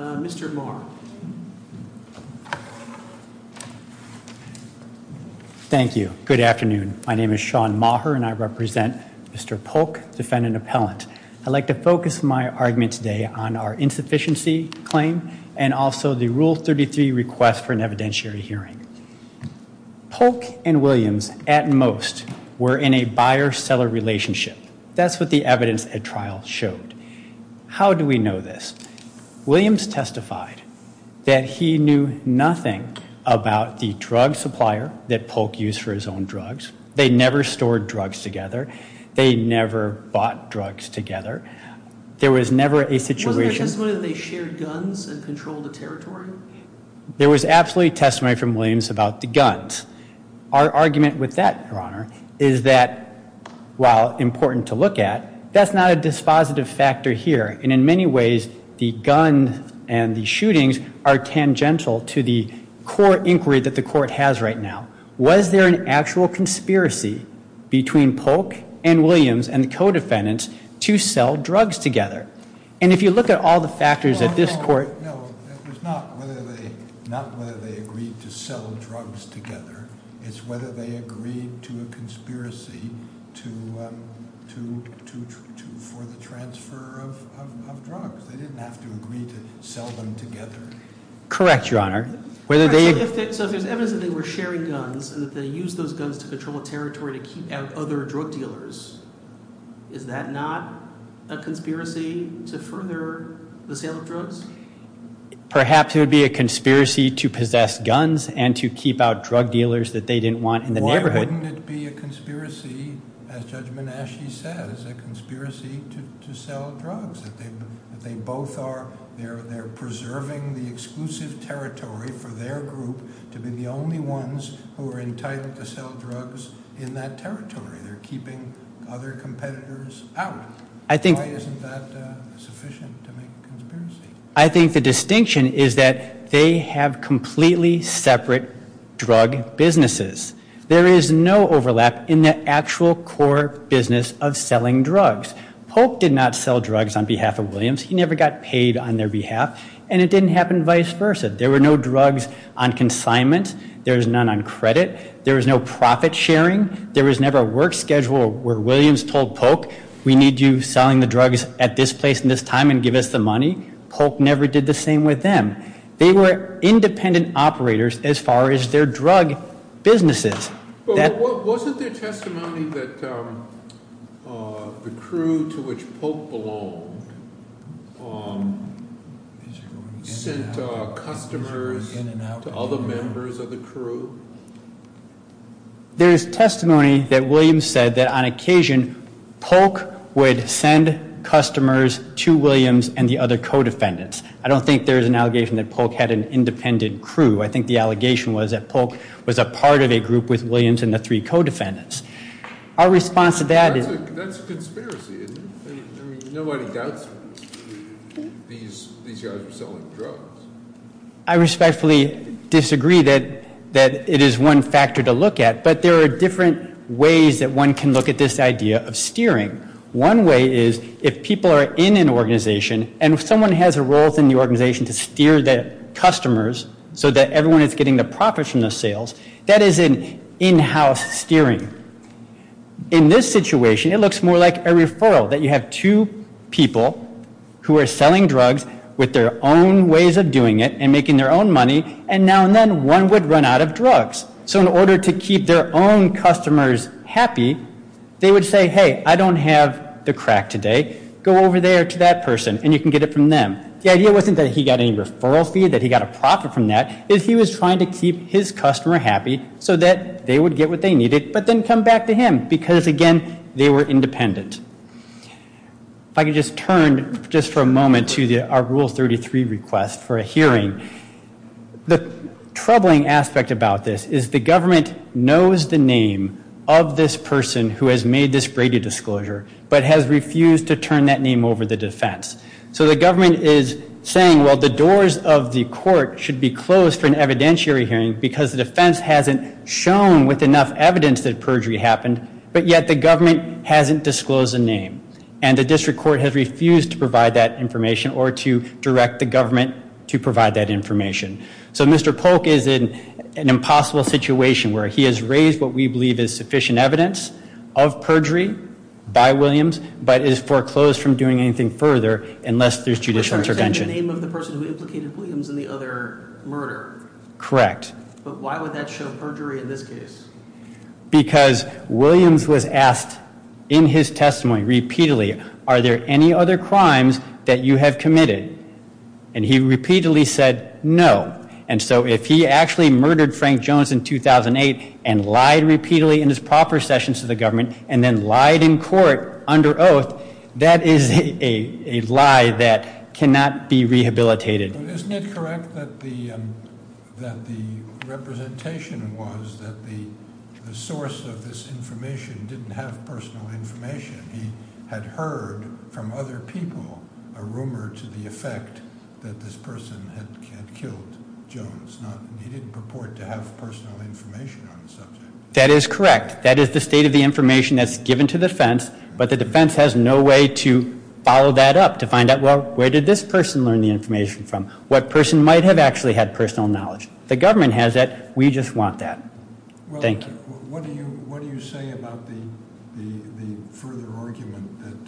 Mr. Maher. Thank you. Good afternoon. My name is Sean Maher and I represent Mr. Polk, defendant appellant. I'd like to focus my argument today on our insufficiency claim and also the Rule relationship. That's what the evidence at trial showed. How do we know this? Williams testified that he knew nothing about the drug supplier that Polk used for his own drugs. They never stored drugs together. They never bought drugs together. There was never a situation. Wasn't there testimony that they shared guns and controlled the territory? There was absolutely testimony from Williams about the guns. Our argument with that, your honor, is that while important to look at, that's not a dispositive factor here. And in many ways, the gun and the shootings are tangential to the core inquiry that the court has right now. Was there an actual conspiracy between Polk and Williams and the co-defendants to sell drugs together? And if you look at all the factors at this court. No, it was not whether they agreed to sell drugs together. It's whether they agreed to a conspiracy for the transfer of drugs. They didn't have to agree to sell them together. Correct, your honor. So if there's evidence that they were sharing guns and that they used those guns to control the territory to keep out other drug dealers, is that not a conspiracy to further the sale of drugs? Perhaps it would be a conspiracy to possess guns and to keep out drug dealers that they didn't want in the neighborhood. Why wouldn't it be a conspiracy as Judge in that territory? They're keeping other competitors out. I think I think the distinction is that they have completely separate drug businesses. There is no overlap in the actual core business of selling drugs. Pope did not sell drugs on behalf of Williams. He never got paid on their behalf and it didn't happen. Vice versa. There were no drugs on consignment. There's none on credit. There was no profit sharing. There was never a work schedule where Williams told Pope, we need you selling the drugs at this place in this time and give us the money. Pope never did the same with them. They were independent operators as far as their drug businesses. But wasn't there testimony that the crew to which Pope belonged sent customers to other members of the crew? There is testimony that Williams said that on occasion, Pope would send customers to Williams and the other co-defendants. I don't think there is an allegation that Pope had an independent crew. I think the allegation was that Pope was a part of a group with Williams and the three co-defendants. Our response to that is, that's a conspiracy, isn't it? Nobody doubts these guys were selling drugs. I respectfully disagree that it is one factor to look at, but there are different ways that one can look at this idea of steering. One way is if people are in an organization and if someone has a role within the organization to steer the customers so that everyone is getting the profits from the sales, that is an in-house steering. In this situation, it looks more like a referral, that you have two people who are selling drugs with their own ways of doing it and making their own money, and now and then one would run out of drugs. So in order to keep their own customers happy, they would say, hey, I don't have the crack today, go over there to that person and you can get it from them. The idea wasn't that he got any referral fee, that he got a profit from that. He was trying to keep his customer happy so that they would get what they needed, but then come back to him, because again, they were independent. If I could just turn, just for a moment, to our Rule 33 request for a hearing. The troubling aspect about this is the government knows the name of this person who has made this Brady Disclosure, but has refused to turn that name over the defense. So the government is saying, well, the doors of the court should be closed for an evidentiary hearing, because the defense hasn't shown with enough evidence that perjury happened, but yet the government hasn't disclosed the name. And the district court has refused to provide that information or to direct the government to provide that information. So Mr. Polk is in an impossible situation where he has raised what we believe is sufficient evidence of perjury by Williams, but is foreclosed from doing anything further unless there's judicial intervention. The name of the person who implicated Williams in the other murder. Correct. But why would that show perjury in this case? Because Williams was asked in his testimony repeatedly, are there any other crimes that you have committed? And he repeatedly said no. And so if he actually murdered Frank Jones in 2008 and lied repeatedly in his proper sessions to the government, and then lied in court under oath, that is a lie that cannot be rehabilitated. Isn't it correct that the representation was that the source of this information didn't have personal information? He had heard from other people a rumor to the effect that this person had killed Jones. He didn't purport to have personal information on the subject. That is correct. That is the state of the information that's given to the defense, but the defense has no way to follow that up to find out, well, where did this person learn the information from? What person might have actually had personal knowledge? The government has that. We just want that. Thank you. What do you say about the further argument that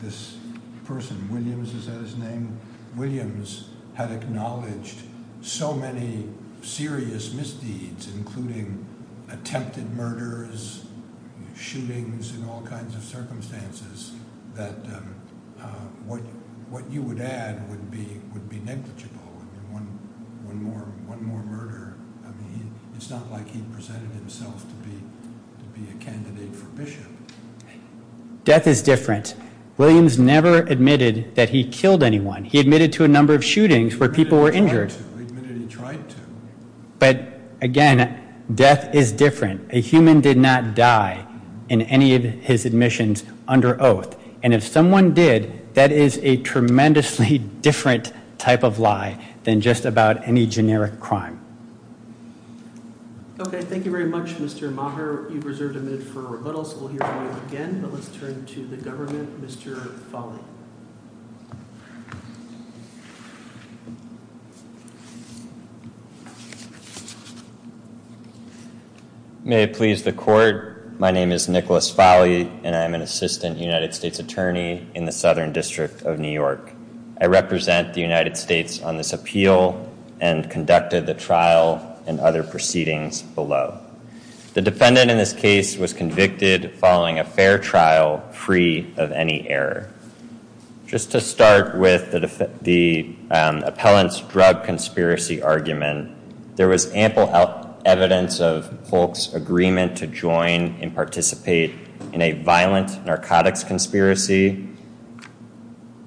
this person, Williams, is that his name? Williams had acknowledged so many serious misdeeds, including attempted murders, shootings, and all kinds of circumstances, that what you would add would be negligible. One more murder, I mean, it's not like he presented himself to be a candidate for bishop. Death is different. Williams never admitted that he killed anyone. He admitted to a number of shootings where people were injured. He admitted he tried to. But again, death is different. A human did not die in any of his admissions under oath. And if someone did, that is a tremendously different type of lie than just about any generic crime. Okay, thank you very much, Mr. Maher. You've reserved a minute for rebuttal, so we'll hear from you again, but let's turn to the government. Mr. Folley. May it please the court. My name is Nicholas Folley, and I'm an assistant United States attorney in the Southern District of New York. I represent the United States on this appeal and conducted the trial and other proceedings below. The defendant in this case was convicted following a fair trial, free of any error. Just to start with the appellant's drug conspiracy argument, there was ample evidence of Polk's agreement to join and participate in a violent narcotics conspiracy.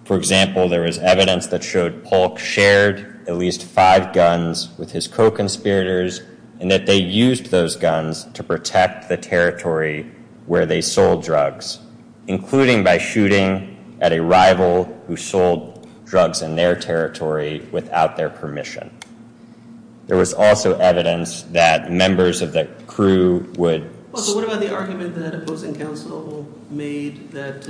For example, there was evidence that showed Polk shared at least five guns with his co-conspirators and that they used those guns to protect the territory where they sold drugs, including by shooting at a rival who sold drugs in their territory without their permission. There was also evidence that members of the crew would... So what about the argument that opposing counsel made that,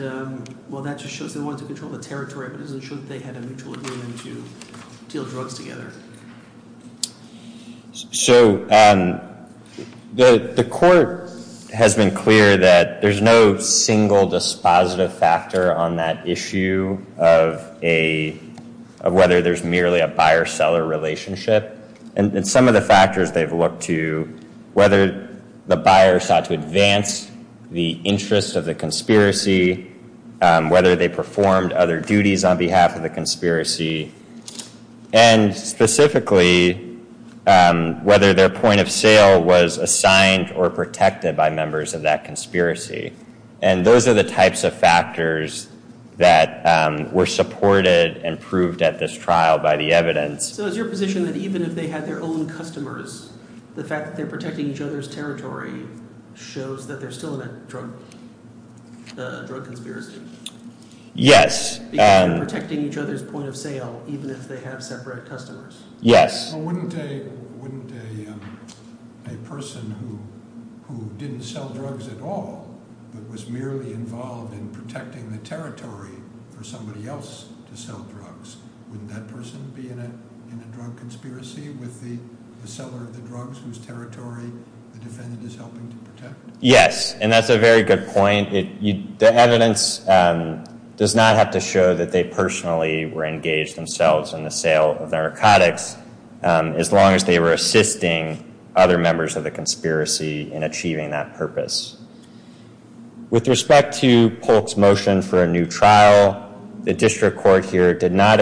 well, that just shows they wanted to control the territory, but it doesn't show that they had a mutual agreement to deal drugs together? So the court has been clear that there's no single dispositive factor on that issue of whether there's merely a buyer-seller relationship. And some of the factors they've looked to, whether the buyer sought to advance the interest of the conspiracy, whether they performed other duties on behalf of the conspiracy. And specifically, whether their point of sale was assigned or protected by members of that conspiracy. And those are the types of factors that were supported and proved at this trial by the evidence. So is your position that even if they had their own customers, the fact that they're protecting each other's territory shows that they're still in a drug conspiracy? Yes. Because they're protecting each other's point of sale, even if they have separate customers? Yes. Well, wouldn't a person who didn't sell drugs at all, but was merely involved in protecting the territory for somebody else to sell drugs, wouldn't that person be in a drug conspiracy with the seller of the drugs whose territory the defendant is helping to protect? Yes, and that's a very good point. The evidence does not have to show that they personally were engaged themselves in the sale of narcotics, as long as they were assisting other members of the conspiracy in achieving that purpose. With respect to Polk's motion for a new trial, the district court here did not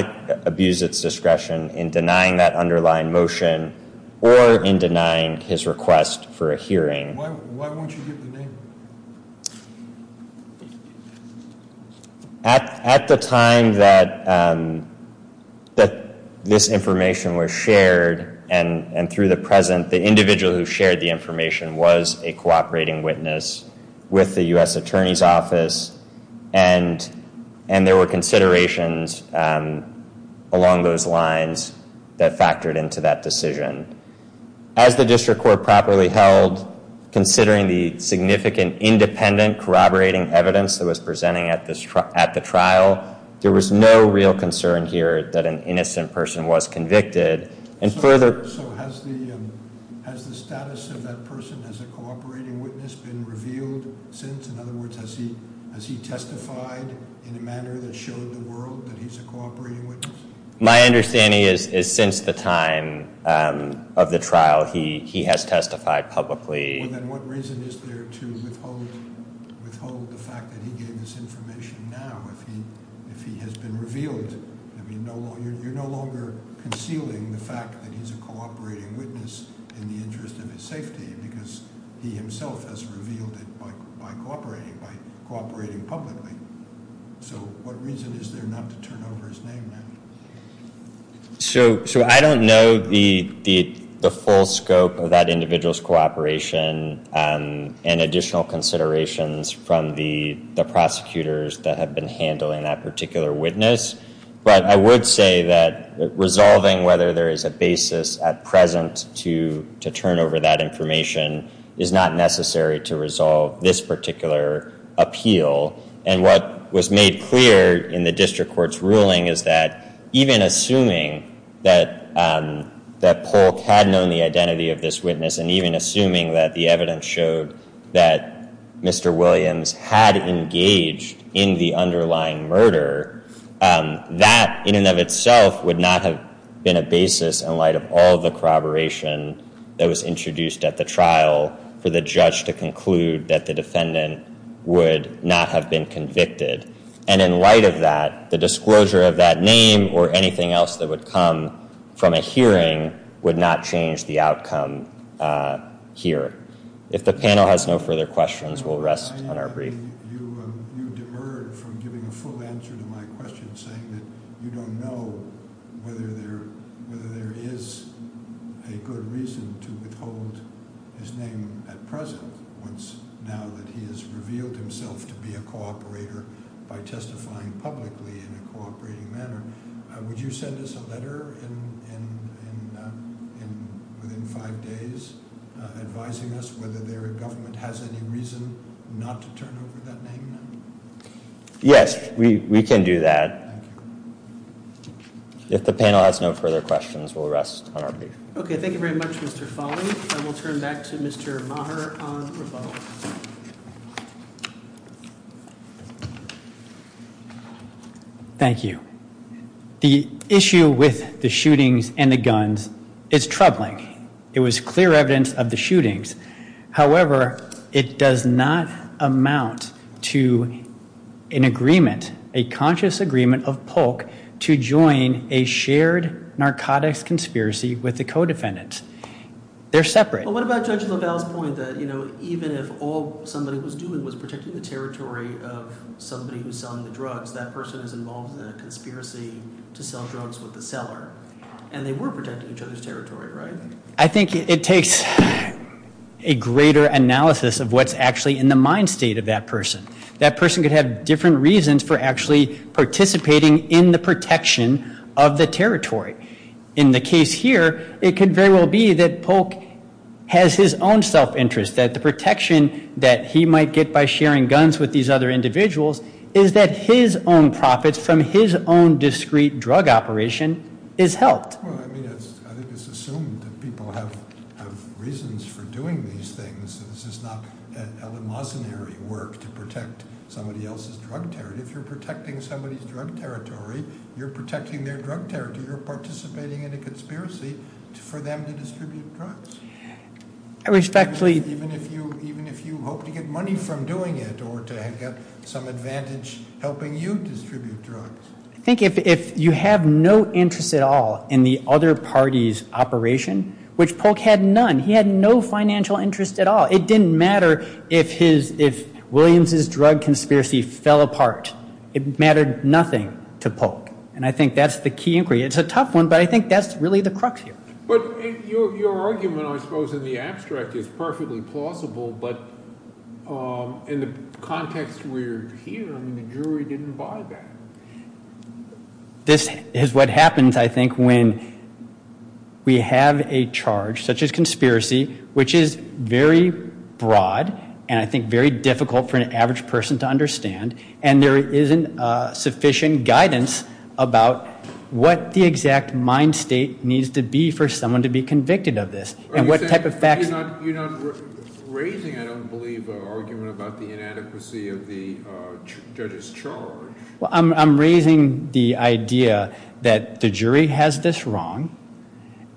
abuse its discretion in denying that underlying motion, or in denying his request for a hearing. Why won't you give the name? At the time that this information was shared, and through the President, the individual who shared the information was a cooperating witness with the U.S. Attorney's Office, and there were considerations along those lines that factored into that decision. As the district court properly held, considering the significant independent corroborating evidence that was presenting at the trial, there was no real concern here that an innocent person was convicted. So has the status of that person as a cooperating witness been revealed since? In other words, has he testified in a manner that showed the world that he's a cooperating witness? My understanding is since the time of the trial, he has testified publicly. Well, then what reason is there to withhold the fact that he gave this information now, if he has been revealed? You're no longer concealing the fact that he's a cooperating witness in the interest of his safety, because he himself has revealed it by cooperating, by cooperating publicly. So what reason is there not to turn over his name now? So I don't know the full scope of that individual's cooperation and additional considerations from the prosecutors that have been handling that particular witness, but I would say that resolving whether there is a basis at present to turn over that information is not necessary to resolve this particular appeal. And what was made clear in the district court's ruling is that even assuming that Polk had known the identity of this witness and even assuming that the evidence showed that Mr. Williams had engaged in the underlying murder, that in and of itself would not have been a basis in light of all the corroboration that was introduced at the trial for the judge to conclude that the defendant would not have been convicted. And in light of that, the disclosure of that name or anything else that would come from a hearing would not change the outcome here. If the panel has no further questions, we'll rest on our brief. You demurred from giving a full answer to my question saying that you don't know whether there is a good reason to withhold his name at present now that he has revealed himself to be a cooperator by testifying publicly in a cooperating manner. Would you send us a letter within five days advising us whether the government has any reason not to turn over that name now? Yes, we can do that. If the panel has no further questions, we'll rest on our brief. Okay, thank you very much, Mr. Foley. And we'll turn back to Mr. Maher on rebuttal. Thank you. The issue with the shootings and the guns is troubling. It was clear evidence of the shootings. However, it does not amount to an agreement, a conscious agreement of Polk to join a shared narcotics conspiracy with the co-defendants. They're separate. But what about Judge LaValle's point that, you know, even if all somebody was doing was protecting the territory of somebody who's selling the drugs, that person is involved in a conspiracy to sell drugs with the seller. And they were protecting each other's territory, right? I think it takes a greater analysis of what's actually in the mind state of that person. That person could have different reasons for actually participating in the protection of the territory. In the case here, it could very well be that Polk has his own self-interest, that the protection that he might get by sharing guns with these other individuals is that his own profits from his own discreet drug operation is helped. Well, I mean, I think it's assumed that people have reasons for doing these things. This is not a masonry work to protect somebody else's drug territory. If you're protecting somebody's drug territory, you're protecting their drug territory. You're participating in a conspiracy for them to distribute drugs. I respectfully- Even if you hope to get money from doing it or to have got some advantage helping you distribute drugs. I think if you have no interest at all in the other party's operation, which Polk had none. He had no financial interest at all. It didn't matter if Williams' drug conspiracy fell apart. It mattered nothing to Polk. And I think that's the key inquiry. It's a tough one, but I think that's really the crux here. But your argument, I suppose, in the abstract is perfectly plausible. But in the context we're here, I mean, the jury didn't buy that. This is what happens, I think, when we have a charge such as conspiracy, which is very broad and I think very difficult for an average person to understand. And there isn't sufficient guidance about what the exact mind state needs to be for someone to be convicted of this. And what type of facts- You're not raising, I don't believe, an argument about the inadequacy of the judge's charge. Well, I'm raising the idea that the jury has this wrong.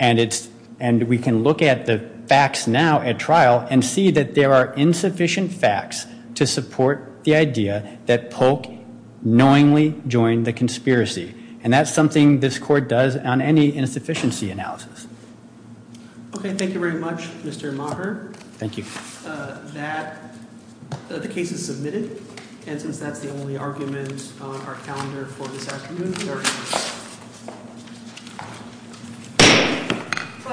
And we can look at the facts now at trial and see that there are insufficient facts to support the idea that Polk knowingly joined the conspiracy. And that's something this court does on any insufficiency analysis. Okay, thank you very much, Mr. Maher. Thank you. The case is submitted. And since that's the only argument on our calendar for this afternoon, we are adjourned. Questions, Mr. Maher?